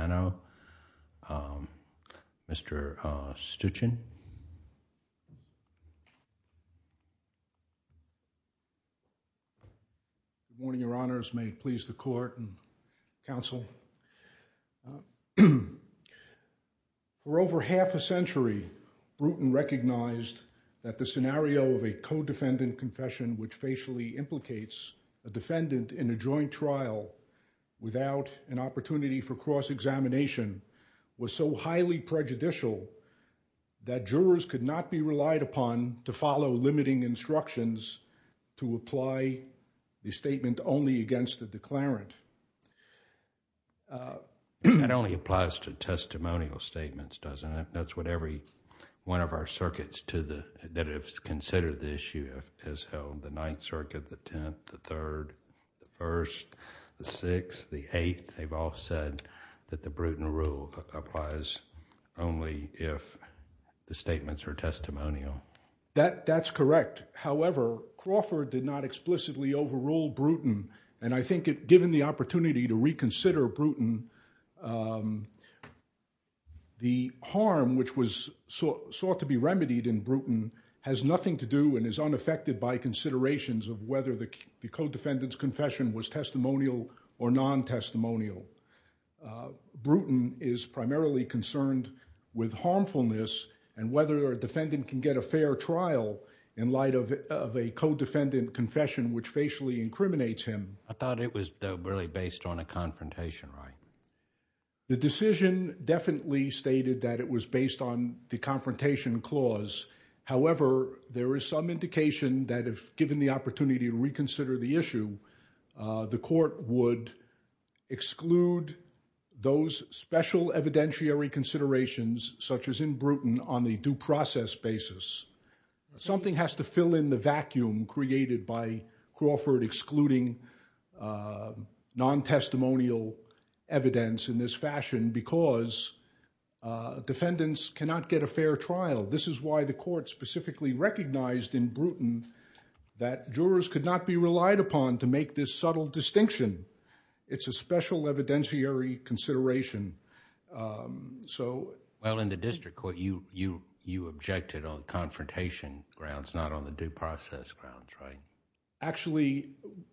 Mr. Stuchin Good morning, your honors. May it please the court and counsel. For over half a century, Bruton recognized that the scenario of a co-defendant confession which facially implicates a defendant in a joint trial without an opportunity for cross-examination was so highly prejudicial that jurors could not be relied upon to follow limiting instructions to apply the statement only against the declarant. Judge Goldberg That only applies to testimonial statements, doesn't it? That's what every one of our circuits that have considered the issue has held. The Bruton rule applies only if the statements are testimonial. Judge Stuchin That's correct. However, Crawford did not explicitly overrule Bruton and I think given the opportunity to reconsider Bruton, the harm which was sought to be remedied in Bruton has nothing to do and is unaffected by considerations of whether the co-defendant's confession was testimonial or non-testimonial. Bruton is primarily concerned with harmfulness and whether a defendant can get a fair trial in light of a co-defendant confession which facially incriminates him. Judge Goldberg I thought it was really based on a confrontation right? Judge Stuchin The decision definitely stated that it was based on the confrontation clause. However, there is some indication that if given the opportunity to reconsider the issue, the court would exclude those special evidentiary considerations such as in Bruton on the due process basis. Something has to fill in the vacuum created by Crawford excluding non-testimonial evidence in this fashion because defendants cannot get a fair trial. This is why the court specifically recognized in Bruton that jurors could not be relied upon to make this subtle distinction. It's a special evidentiary consideration. Judge Goldberg Well, in the district court, you objected on the confrontation grounds, not on the due process grounds, right? Judge Stuchin Actually,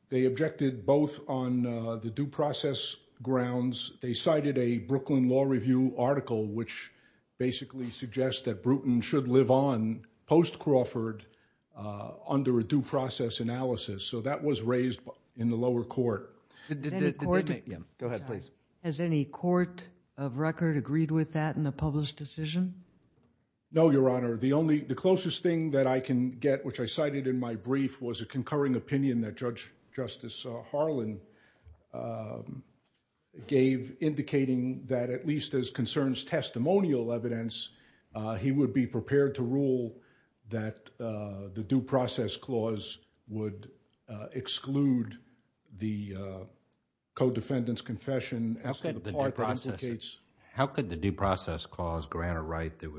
they objected both on the due process grounds. They cited a Brooklyn Law Review article which basically suggests that Bruton should live on post-Crawford under a due process analysis. So that was raised in the lower court. Judge Goldberg Has any court of record agreed with that in the published decision? Judge Stuchin No, Your Honor. The closest thing that I can get which I cited in my brief was a concurring opinion that Judge Justice Harlan gave indicating that at least as concerns testimonial evidence, he would be prepared to rule that the due process clause would exclude the co-defendant's confession as to the part that indicates... that would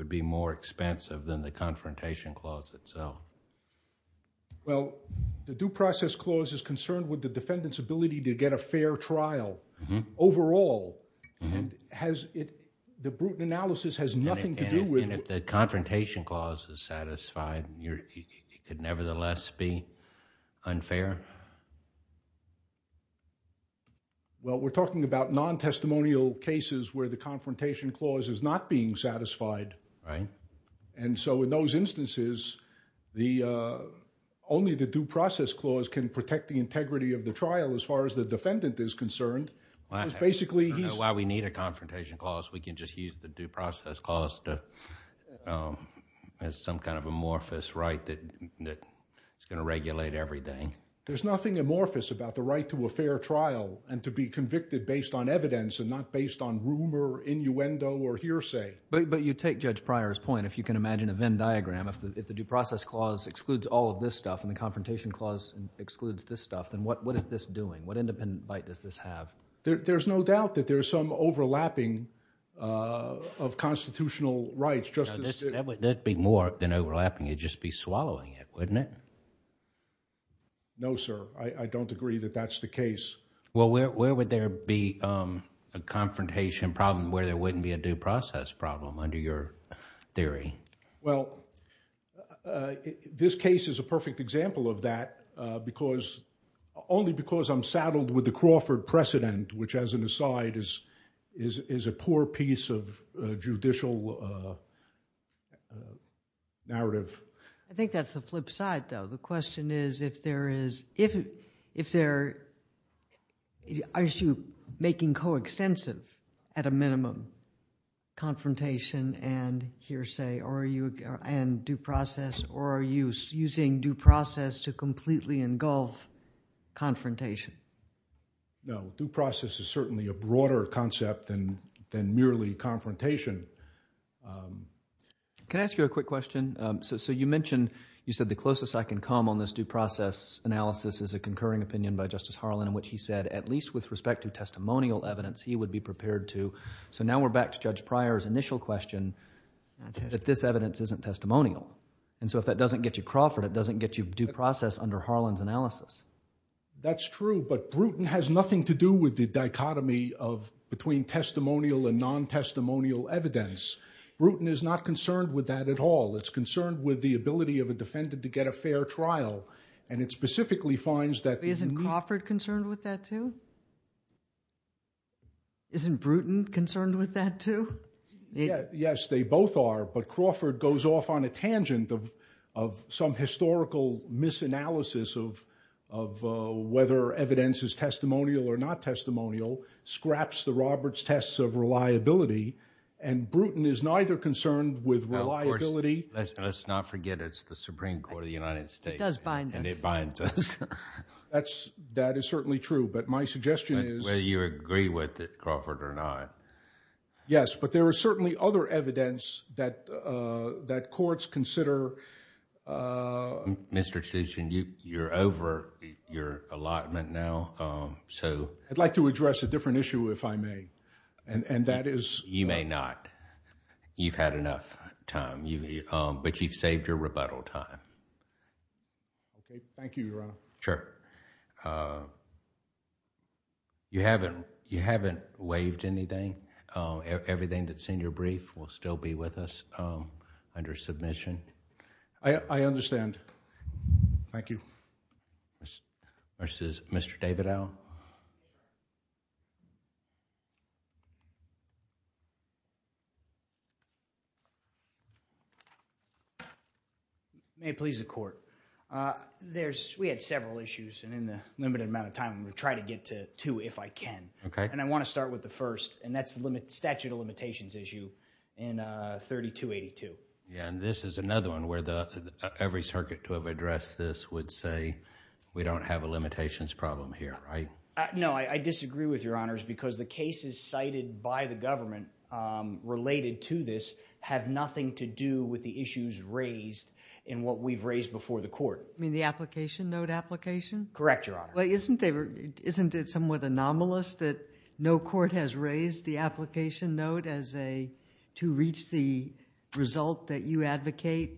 be more expensive than the confrontation clause itself. Judge Goldberg Well, the due process clause is concerned with the defendant's ability to get a fair trial overall. The Bruton analysis has nothing to do with... Judge Stuchin And if the confrontation clause is satisfied, it could nevertheless be unfair? Judge Goldberg Well, we're talking about non-testimonial cases where the confrontation clause is not being satisfied. In those instances, only the due process clause can protect the integrity of the trial as far as the defendant is concerned. Basically, he's... Judge Stuchin I don't know why we need a confrontation clause. We can just use the due process clause as some kind of amorphous right that is going to regulate everything. Judge Goldberg There's nothing amorphous about the right to a fair trial and to be convicted based on evidence and not based on rumor, innuendo, or hearsay. Judge Stuchin But you take Judge Pryor's point. If you can imagine a Venn diagram, if the due process clause excludes all of this stuff and the confrontation clause excludes this stuff, then what is this doing? What independent bite does this have? Judge Goldberg There's no doubt that there's some overlapping of constitutional rights, just as... Judge Pryor That would be more than overlapping. You'd just be swallowing it, wouldn't it? Judge Goldberg No, sir. I don't agree that that's the case. Judge Pryor Well, where would there be a confrontation problem where there wouldn't be a due process problem under your theory? Judge Goldberg Well, this case is a perfect example of that only because I'm saddled with the Crawford precedent, which as an aside is a poor piece of judicial narrative. Judge Pryor I think that's the flip side, though. The question is if there is... are you making coextensive at a minimum confrontation and hearsay and due process, or are you using due process to completely engulf confrontation? Judge Stuchin No. Due process is certainly a broader concept than merely confrontation. Judge Pryor Can I ask you a quick question? You mentioned, you said the closest I can come on this due process analysis is a concurring opinion by Justice Harlan in which he said at least with respect to testimonial evidence, he would be prepared to... so now we're back to Judge Pryor's initial question that this evidence isn't testimonial. If that doesn't get you Crawford, it doesn't get you due process under Harlan's analysis. Judge Pryor That's true, but Bruton has nothing to do with the dichotomy between testimonial and non-testimonial evidence. Bruton is not concerned with that at all. It's concerned with the ability of a defendant to get a fair trial, and it specifically finds that... Judge Sotomayor Isn't Crawford concerned with that, too? Isn't Bruton concerned with that, too? Judge Pryor Yes, they both are, but Crawford goes off on a tangent of some historical misanalysis of whether evidence is testimonial or not testimonial, scraps the Roberts tests of reliability, and Bruton is neither concerned with reliability... Justice Breyer Of course, let's not forget it's the Supreme Court of the United States... Justice Kagan It does bind us. Justice Breyer... and it binds us. Judge Pryor That is certainly true, but my suggestion is... Justice Breyer Whether you agree with it, Crawford, or not. Judge Pryor Yes, but there is certainly other evidence that courts consider... Justice Breyer Mr. Chisholm, you're over your allotment now, so... Judge Pryor I'd like to address a different issue if I may, and that is... Justice Breyer You may not. You've had enough time, but you've saved your rebuttal time. Judge Pryor Okay. Thank you, Your Honor. Justice Breyer Sure. You haven't waived anything? Everything that's in your brief will still be with us under submission? Judge Pryor I understand. Thank you. Justice Breyer Versus Mr. Davidow? Mr. Davidow May it please the Court. We had several issues, and in the limited amount of time, I'm going to try to get to two if I can. Justice Breyer Okay. Mr. Davidow I want to start with the first, and that's the statute of limitations issue in 3282. Justice Breyer Yeah, and this is another one where every circuit to have addressed this would say we don't have a limitations problem here, right? Mr. Davidow No, I disagree with Your Honors because the cases cited by the government related to this have nothing to do with the issues raised in what we've raised before the Court. Justice Sotomayor You mean the application, note application? Mr. Davidow Correct, Your Honor. Justice Sotomayor Isn't it somewhat anomalous that no court has raised the application note to reach the result that you advocate?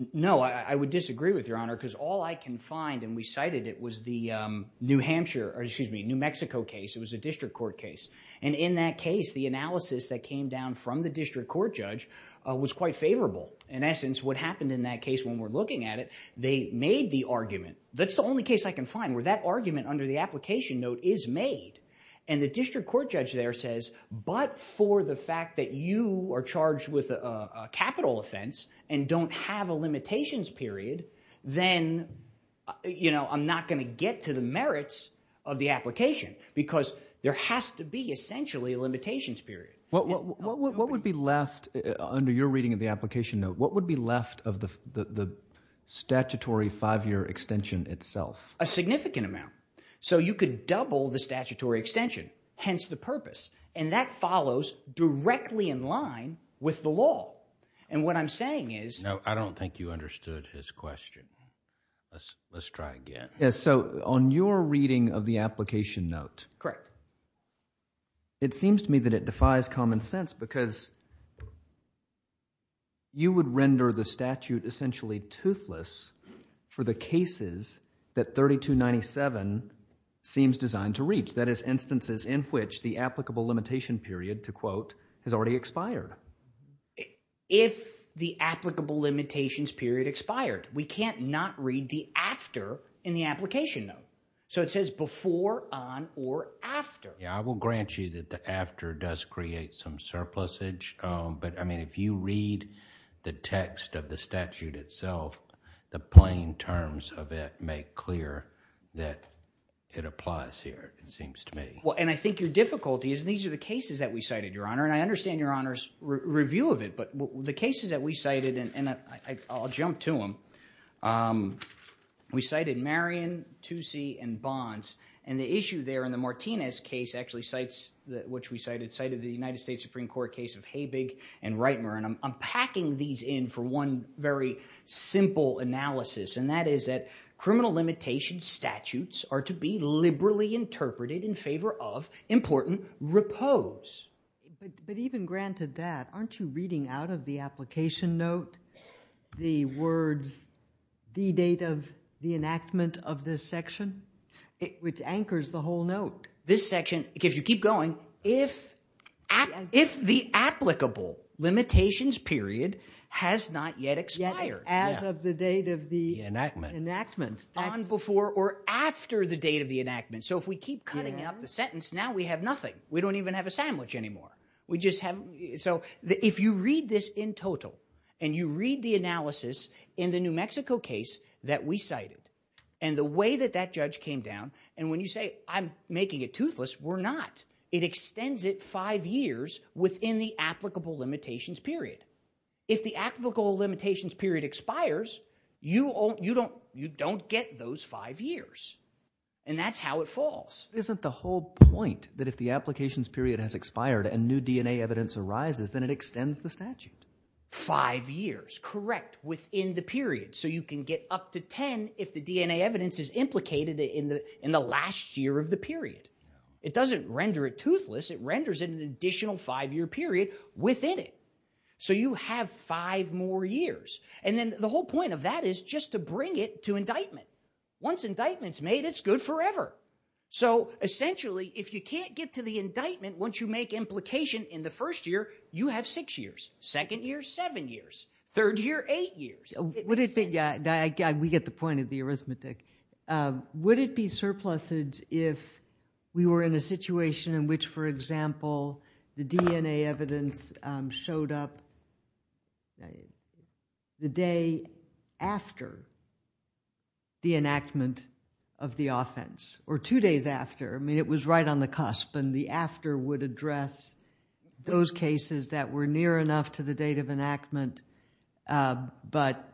Mr. Davidow No, I would disagree with Your Honor because all I can find, and we cited it, was the New Mexico case. It was a district court case, and in that case, the analysis that came down from the district court judge was quite favorable. In essence, what happened in that case when we're looking at it, they made the argument, that's the only case I can find where that argument under the application note is made, and the district court judge there says, but for the fact that you are charged with a capital offense and don't have a limitations period, then I'm not going to get to the merits of the application because there has to be essentially a limitations period. Justice Kagan What would be left under your reading of the application note, what would be left of the statutory five-year extension itself? Mr. Davidow A significant amount, so you could double the statutory extension, hence the purpose, and that follows directly in line with the law, and what I'm saying is... Justice Alito No, I don't think you understood his question. Let's try again. Mr. Davidow Yes, so on your reading of the application note... Justice Kagan Correct. Mr. Davidow It seems to me that it defies common sense because you would render the statute essentially toothless for the cases that 3297 seems designed to reach, that is, instances in which the applicable limitation period, to quote, has already expired. Mr. Davidow If the applicable limitations period expired. We can't not read the after in the application note. So it says before, on, or after. Justice Alito I will grant you that the after does create some surplusage, but, I mean, if you read the text of the statute itself, the plain terms of it make clear that it applies here, it seems to me. Mr. Davidow Well, and I think your difficulty is, and these are the cases that we cited, Your Honor, and I understand Your Honor's review of it, but the cases that we cited, and I'll jump to them, we cited Marion, Toosie, and Bonds, and the issue there in the Martinez case actually cites, which we cited, cited the United States Supreme Court case of Habig and Reitmer, and I'm packing these in for one very simple analysis, and that is that criminal limitation statutes are to be liberally interpreted in favor of, important, repose. Justice Sotomayor But even granted that, aren't you reading out of the application note the words, the date of the enactment of this section, which anchors the whole note? Mr. Davidow This section, if you keep going, if the applicable limitations period has not yet expired. Justice Sotomayor As of the date of the enactment. Mr. Davidow On before or after the date of the enactment, so if we keep cutting out the sentence, now we have nothing. We don't even have a sandwich anymore. We just have, so if you read this in total, and you read the analysis in the New Mexico case that we cited, and the way that that judge came down, and when you say, I'm making it toothless, we're not. It extends it five years within the applicable limitations period. If the applicable limitations period expires, you don't get those five years, and that's how it falls. Justice Sotomayor Isn't the whole point that if the applications period has expired and new DNA evidence arises, then it extends the statute? Mr. Davidow Five years, correct, within the period, so you can get up to ten if the DNA evidence is implicated in the last year of the period. It doesn't render it toothless, it renders it an additional five-year period within it. So you have five more years, and then the whole point of that is just to bring it to indictment. Once indictment's made, it's good forever. So essentially, if you can't get to the indictment once you make implication in the first year, you have six years, second year, seven years, third year, eight years. Justice Kagan We get the point of the arithmetic. Would it be surplusage if we were in a situation in which, for example, the DNA evidence showed up the day after the enactment of the offense, or two days after? I mean, it was right on the cusp, and the after would address those cases that were near enough to the date of enactment, but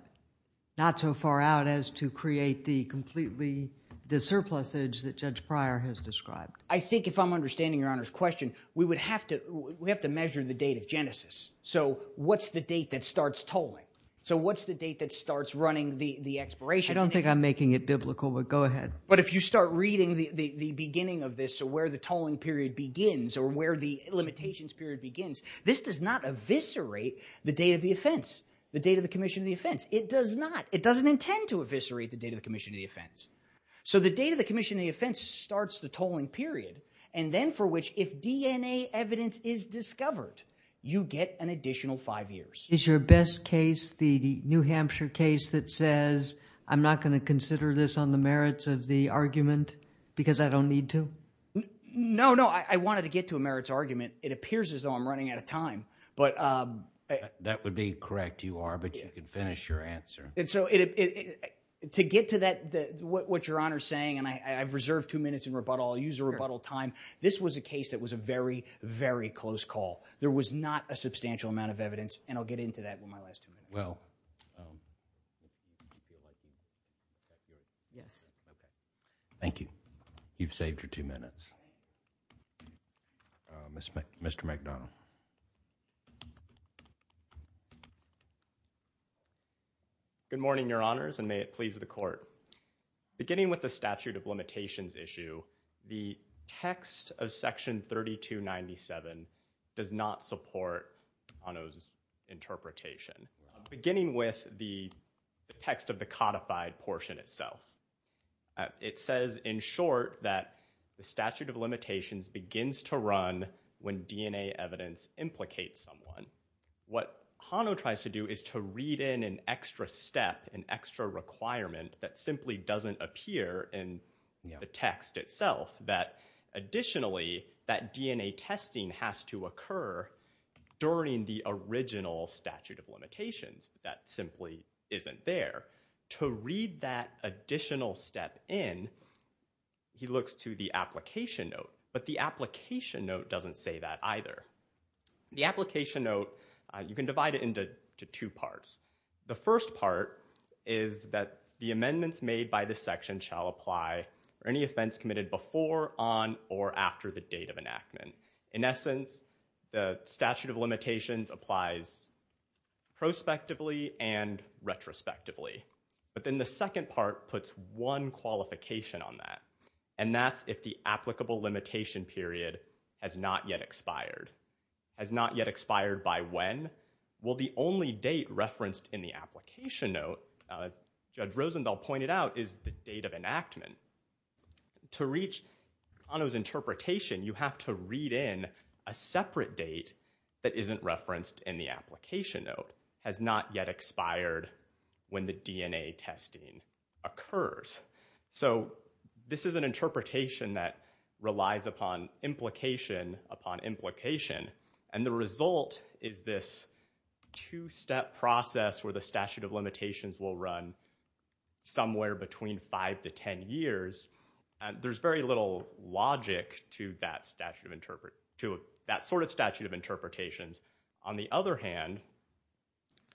not so far out as to create the completely, the surplusage that Judge Pryor has described. Mr. David I think if I'm understanding Your Honor's question, we would have to measure the date of genesis. So what's the date that starts tolling? So what's the date that starts running the expiration date? Justice Kagan I don't think I'm making it biblical, but go ahead. But if you start reading the beginning of this, so where the tolling period begins, or where the limitations period begins, this does not eviscerate the date of the offense, the date of the commission of the offense. It does not. It doesn't intend to eviscerate the date of the commission of the offense. So the date of the commission of the offense starts the tolling period, and then for which if DNA evidence is discovered, you get an additional five years. Justice Sotomayor Is your best case, the New Hampshire case that says, I'm not going to consider this on the merits of the argument because I don't need to? Mr. David No, no. I wanted to get to a merits argument. It appears as though I'm running out of time, but Justice Breyer That would be correct, you are, but you can finish your answer. Mr. David And so to get to that, what Your Honor's saying, and I've reserved two minutes in rebuttal, I'll use the rebuttal time. This was a case that was a very, very close call. There was not a substantial amount of evidence, and I'll get into that in my last two minutes. Mr. McDonough Good morning, Your Honors, and may it please the Court. Beginning with the statute of limitations issue, the text of section 3297 does not support Hano's interpretation. Beginning with the text of the codified portion itself, it says in short that the statute of limitations begins to run when DNA evidence implicates someone. What Hano tries to do is to read in an extra step, an extra requirement that simply doesn't appear in the text itself, that additionally that DNA testing has to occur during the original statute of limitations. That simply isn't there. To read that additional step in, he looks to the application note, but the application note doesn't say that either. The application note, you can divide it into two parts. The first part is that the amendments made by the section shall apply for any offense committed before, on, or after the date of enactment. In essence, the statute of limitations applies prospectively and retrospectively. But then the second part puts one qualification on that, and that's if the applicable limitation period has not yet expired. Has not yet expired by when? Well, the only date referenced in the application note, as Judge Rosenthal pointed out, is the date of enactment. To reach Hano's interpretation, you have to read in a separate date that isn't referenced in the application note, has not yet expired when the DNA testing occurs. So this is an interpretation that relies upon implication upon implication, and the result is this two-step process where the statute of limitations will run somewhere between five to ten years. There's very little logic to that sort of statute of interpretations. On the other hand,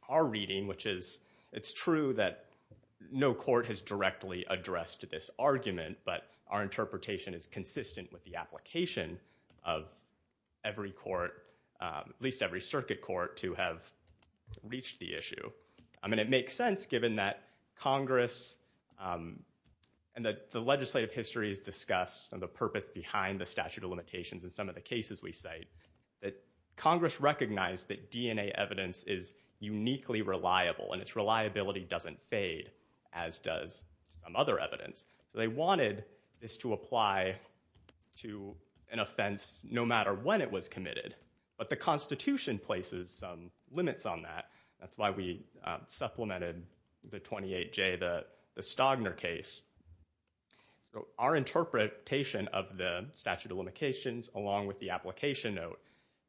our reading, which is, it's true that no court has directly addressed this argument, but our interpretation is consistent with the application of every court, at least every circuit court, to have reached the issue. I mean, it makes sense given that Congress, and that the legislative history is discussed and the purpose behind the statute of limitations in some of the cases we cite, that Congress recognized that DNA evidence is uniquely reliable, and its reliability doesn't fade, as does some other evidence. They wanted this to apply to an offense no matter when it was committed, but the Constitution places some limits on that. That's why we supplemented the 28J, the Stagner case. Our interpretation of the statute of limitations, along with the application note,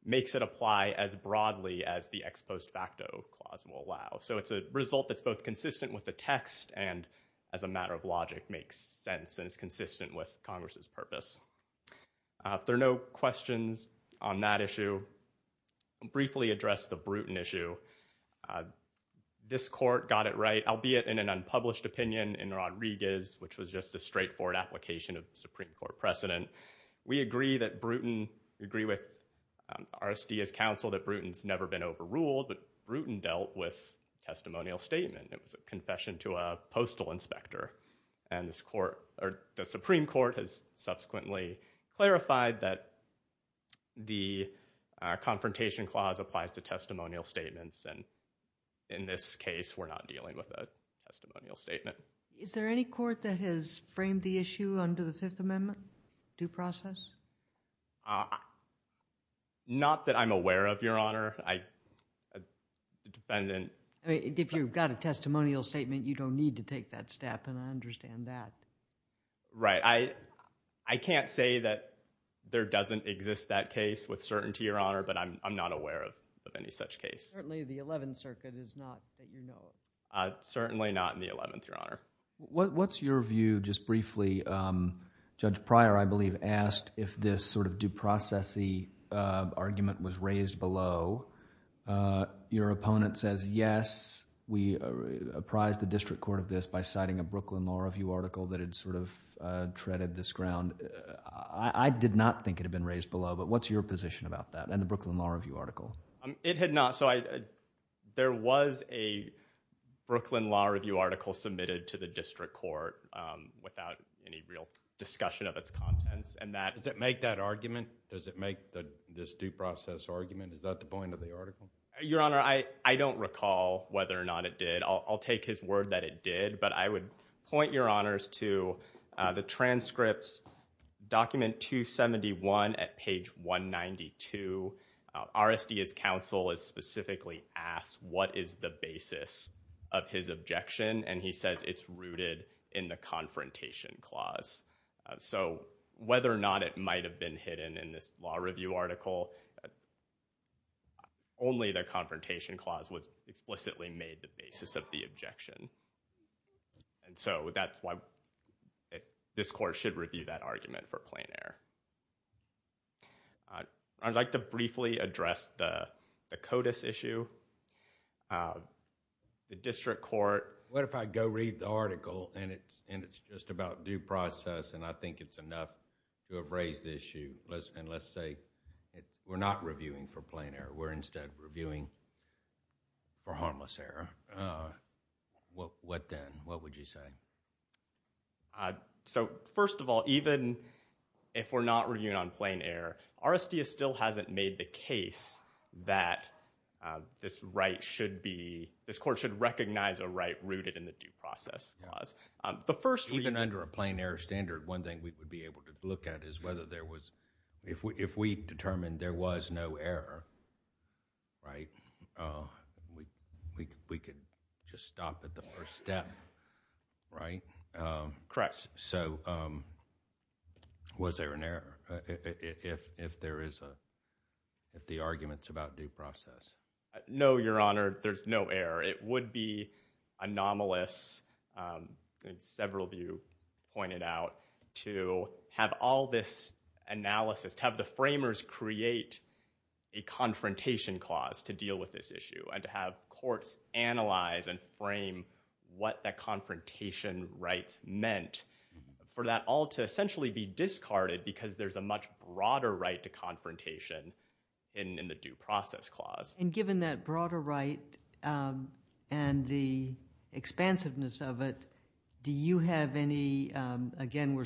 makes it apply as broadly as the ex post facto clause will allow. So it's a result that's both consistent with the text and as a matter of logic makes sense and is consistent with Congress' purpose. There are no questions on that issue. I'll briefly address the Bruton issue. This court got it right, albeit in an unpublished opinion in Rodriguez, which was just a straightforward application of Supreme Court precedent. We agree that Bruton, we agree with RSD as counsel that Bruton's never been overruled, but Bruton dealt with testimonial statement. It was a confession to a postal inspector, and the Supreme Court has subsequently clarified that the confrontation clause applies to testimonial statements, and in this case we're not dealing with a testimonial statement. Is there any court that has framed the issue under the Fifth Amendment due process? Not that I'm aware of, Your Honor. If you've got a testimonial statement, you don't need to take that step, and I understand that. Right. I can't say that there doesn't exist that case with certainty, Your Honor, but I'm not aware of any such case. Certainly, the Eleventh Circuit is not that you know of. Certainly not in the Eleventh, Your Honor. What's your view, just briefly, Judge Pryor, I believe, asked if the Supreme Court if this due process-y argument was raised below, your opponent says, yes, we apprised the district court of this by citing a Brooklyn Law Review article that had treaded this ground. I did not think it had been raised below, but what's your position about that and the Brooklyn Law Review article? It had not. There was a Brooklyn Law Review article submitted to the district court without any real discussion of its contents. Does it make that argument? Does it make this due process argument? Is that the point of the article? Your Honor, I don't recall whether or not it did. I'll take his word that it did, but I would point your honors to the transcripts, document 271 at page 192. RSD's counsel is specifically asked what is the basis of his objection, and he says it's rooted in the confrontation clause. So, whether or not it might have been hidden in this law review article, only the confrontation clause was explicitly made the basis of the objection, and so that's why this court should review that argument for plain error. I would like to briefly address the CODIS issue. The district court... What if I go read the article and it's just about due process and I think it's enough to have raised the issue, and let's say we're not reviewing for plain error. We're instead reviewing for harmless error. What then? What would you say? First of all, even if we're not reviewing on plain error, RSD still hasn't made the case that this right should be... this court should recognize a right rooted in the due process clause. Even under a plain error standard, one thing we would be able to look at is whether there was... if we determined there was no error, we could just stop at the first step, right? Correct. Was there an error if the argument's about due process? No, Your Honor. There's no error. It would be anomalous, as several of you pointed out, to have all this analysis... to have the framers create a confrontation clause to deal with this issue and to have courts analyze and frame what that confrontation rights meant for that all to essentially be discarded because there's a much broader right to confrontation in the due process clause. Given that broader right and the expansiveness of it, do you have any... again, we're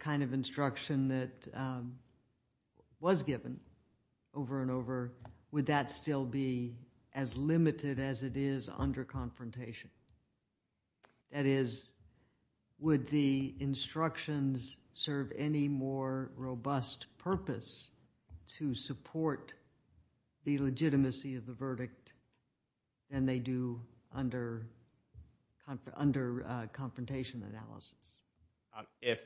kind of instruction that was given over and over. Would that still be as limited as it is under confrontation? That is, would the instructions serve any more robust purpose to support the legitimacy of the verdict than they do under confrontation analysis? If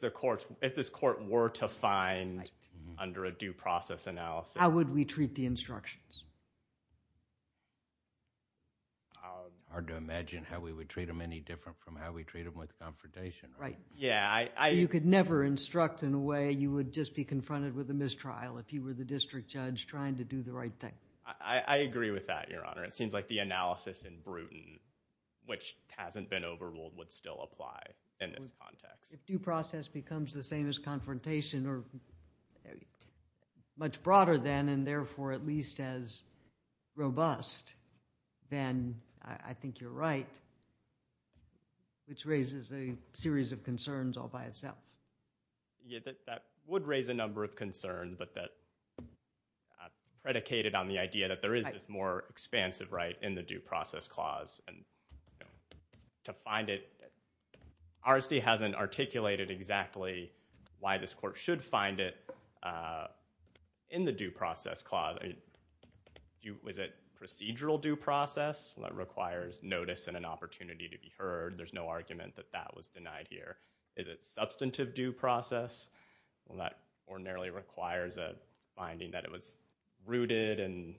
the courts... if this court were to find under a due process analysis... How would we treat the instructions? Hard to imagine how we would treat them any different from how we treat them with confrontation. Right. Yeah, I... You could never instruct in a way you would just be confronted with a mistrial if you were the district judge trying to do the right thing. I agree with that, Your Honor. It seems like the analysis in Bruton, which hasn't been overruled, would still apply in that context. If due process becomes the same as confrontation or much broader then and therefore at least as robust, then I think you're right, which raises a series of concerns all by itself. Yeah, that would raise a number of concerns, but that's predicated on the idea that there is more expansive right in the due process clause. To find it... RSD hasn't articulated exactly why this court should find it in the due process clause. Was it procedural due process? That requires notice and an opportunity to be heard. There's no argument that that was denied here. Is it substantive due process? Well, that ordinarily requires a finding that it was rooted in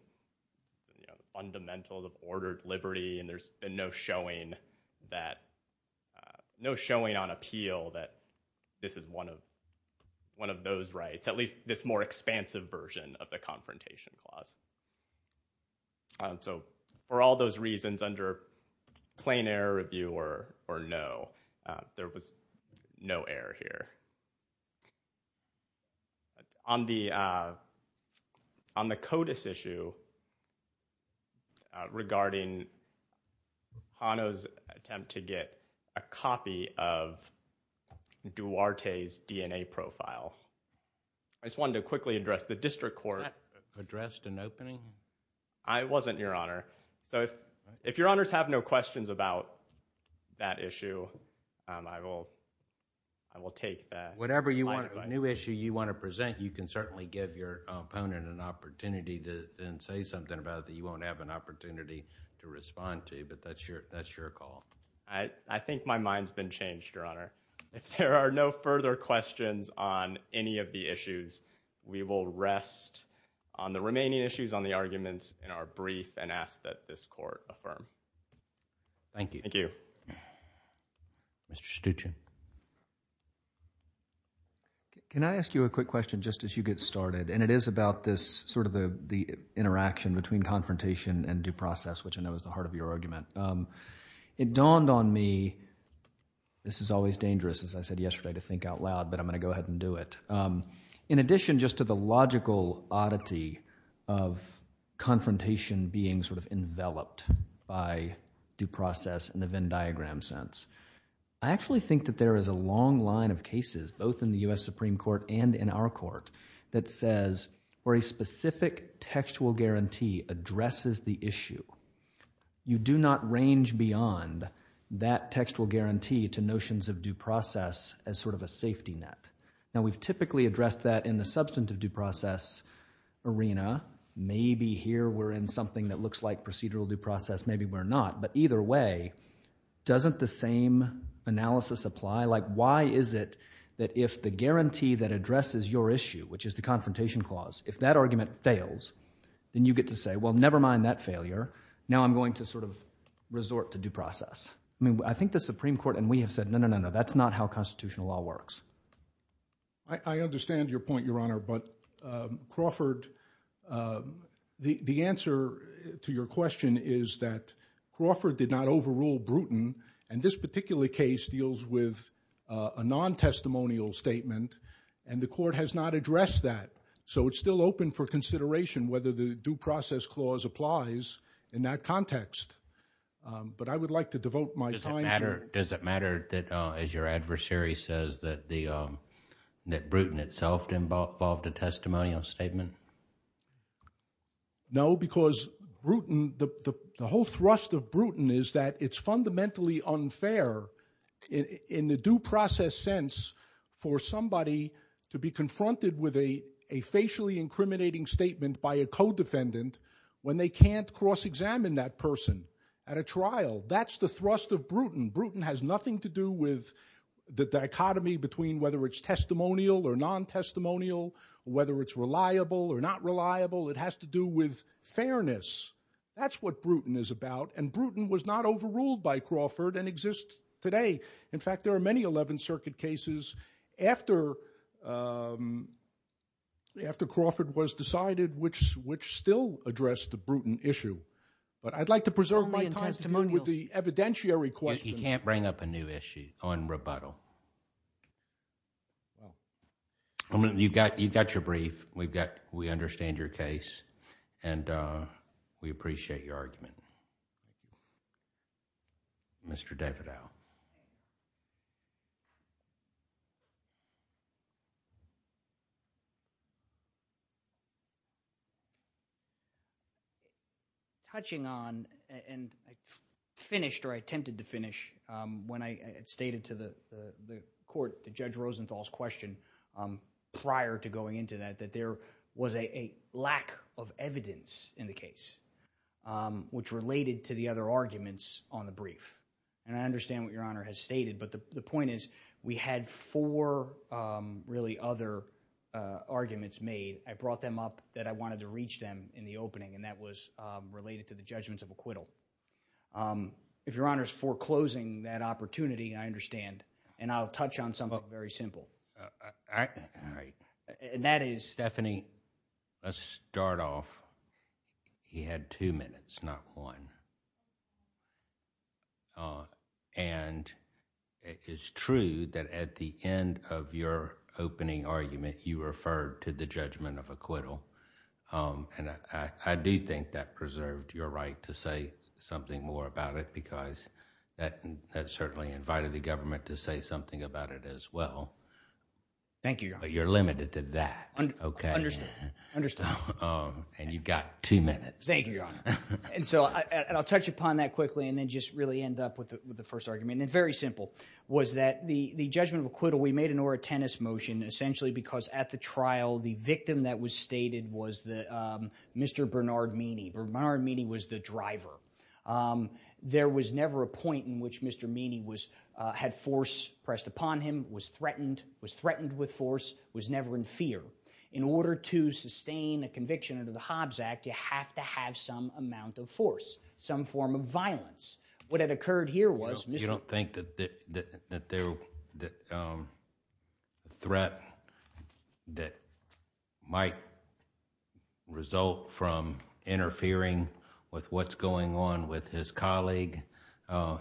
fundamentals of ordered liberty and there's been no showing on appeal that this is one of those rights, at least this more expansive version of the confrontation clause. For all those reasons under plain error review or no, there was no error here. On the CODIS issue regarding Hanno's attempt to get a copy of Duarte's DNA profile, I just wanted to quickly address the district court... I wasn't, Your Honor. If Your Honors have no questions about that issue, I will take that. Whatever new issue you want to present, you can certainly give your opponent an opportunity to then say something about it that you won't have an opportunity to respond to, but that's your call. I think my mind's been changed, Your Honor. If there are no further questions on any of the issues, we will rest on the remaining issues on the arguments in our brief and ask that this court affirm. Thank you. Thank you. Mr. Stuchin. Can I ask you a quick question just as you get started? It is about this interaction between confrontation and due process, which I know is the heart of your argument. It dawned on me... this is always dangerous, as I said yesterday, to think out loud, but I'm going to go ahead and do it. In addition just to the logical oddity of confrontation being sort of enveloped by due process in the Venn diagram sense, I actually think that there is a long line of cases, both in the U.S. Supreme Court and in our court, that says for a specific textual guarantee addresses the issue. You do not range beyond that textual guarantee to notions of due process as sort of a safety net. Now, we've typically addressed that in the substantive due process arena. Maybe here we're in something that looks like procedural due process. Maybe we're not. But either way, doesn't the same analysis apply? Like, why is it that if the guarantee that addresses your issue, which is the confrontation clause, if that argument fails, then you get to say, well, never mind that failure. Now I'm going to sort of resort to due process. I mean, I think the Supreme Court and we have said, no, no, no, no, that's not how constitutional law works. I understand your point, Your Honor, but Crawford... the answer to your question is that Crawford did not overrule Bruton, and this particular case deals with a non-testimonial statement, and the court has not addressed that. So, it's still open for consideration whether the due process clause applies in that context. But I would like to devote my time... Does it matter that, as your adversary says, that Bruton itself involved a testimonial statement? No, because Bruton... the whole thrust of Bruton is that it's fundamentally unfair in the due process sense for somebody to be confronted with a facially incriminating statement by a co-defendant when they can't cross-examine that person at a trial. That's the thrust of Bruton. Bruton has nothing to do with the dichotomy between whether it's testimonial or non-testimonial, whether it's reliable or not reliable. It has to do with fairness. That's what Bruton is about, and Bruton was not overruled by Crawford and exists today. In fact, there are many Eleventh Circuit cases after Crawford was decided which still address the Bruton issue. But I'd like to preserve my time... Only in testimonials.... to deal with the evidentiary question. You can't bring up a new issue on rebuttal. You've got your brief. We understand your case, and we appreciate your argument. Mr. Davidoff. Touching on, and I finished or I attempted to finish when I had stated to the court, the Judge Rosenthal's question prior to going into that, that there was a lack of evidence in the case which related to the other arguments on the brief. And I understand what Your Honor has stated, but the point is we had four really other arguments made. I brought them up that I wanted to reach them in the opening, and that was related to the judgments of acquittal. If Your Honor's foreclosing that opportunity, I understand. And I'll touch on something very simple. All right. And that is... Stephanie, let's start off. He had two minutes, not one. And it's true that at the end of your opening argument, you referred to the judgment of acquittal. And I do think that preserved your right to say something more about it because that certainly invited the government to say something about it as well. Thank you, Your Honor. But you're limited to that. Understood. And you've got two minutes. Thank you, Your Honor. And I'll touch upon that quickly and then just really end up with the first argument. And it's very simple, was that the judgment of acquittal, we made an Mr. Bernard Meany. Bernard Meany was the driver. There was never a point in which Mr. Meany had force pressed upon him, was threatened, was threatened with force, was never in fear. In order to sustain a conviction under the Hobbs Act, you have to have some amount of force, some form of violence. What had occurred here was... Result from interfering with what's going on with his colleague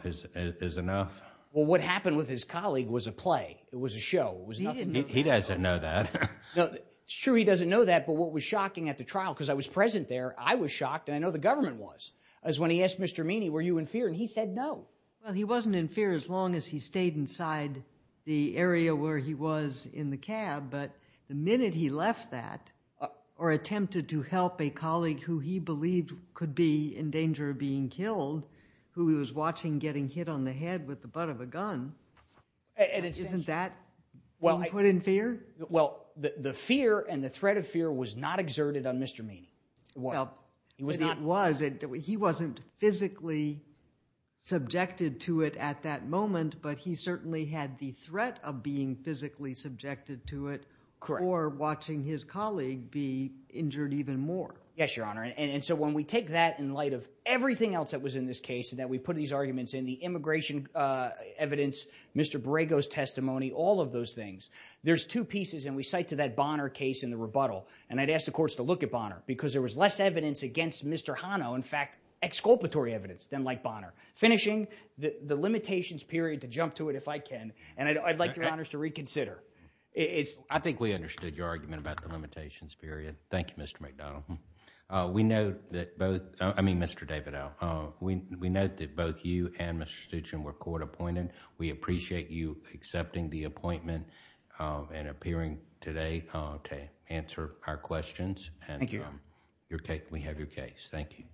is enough? Well, what happened with his colleague was a play. It was a show. He doesn't know that. It's true he doesn't know that. But what was shocking at the trial, because I was present there, I was shocked, and I know the government was, is when he asked Mr. Meany, were you in fear? And he said no. Well, he wasn't in fear as long as he stayed inside the area where he was in the cab. But the minute he left that, or attempted to help a colleague who he believed could be in danger of being killed, who he was watching getting hit on the head with the butt of a gun, isn't that when he put in fear? Well, the fear and the threat of fear was not exerted on Mr. Meany. It was. It was. He wasn't physically subjected to it at that moment, but he certainly had the fear of it. Correct. Or watching his colleague be injured even more. Yes, Your Honor. And so when we take that in light of everything else that was in this case and that we put these arguments in, the immigration evidence, Mr. Borrego's testimony, all of those things, there's two pieces. And we cite to that Bonner case in the rebuttal. And I'd ask the courts to look at Bonner, because there was less evidence against Mr. Hanno, in fact, exculpatory evidence, than like Bonner. Finishing, the limitations period, to jump to it if I can, and I'd like Your Honor to reconsider. I think we understood your argument about the limitations period. Thank you, Mr. McDonald. We know that both... I mean, Mr. Davidow. We know that both you and Mr. Stuchin were court appointed. We appreciate you accepting the appointment and appearing today to answer our questions. Thank you, Your Honor. And we have your case. Thank you.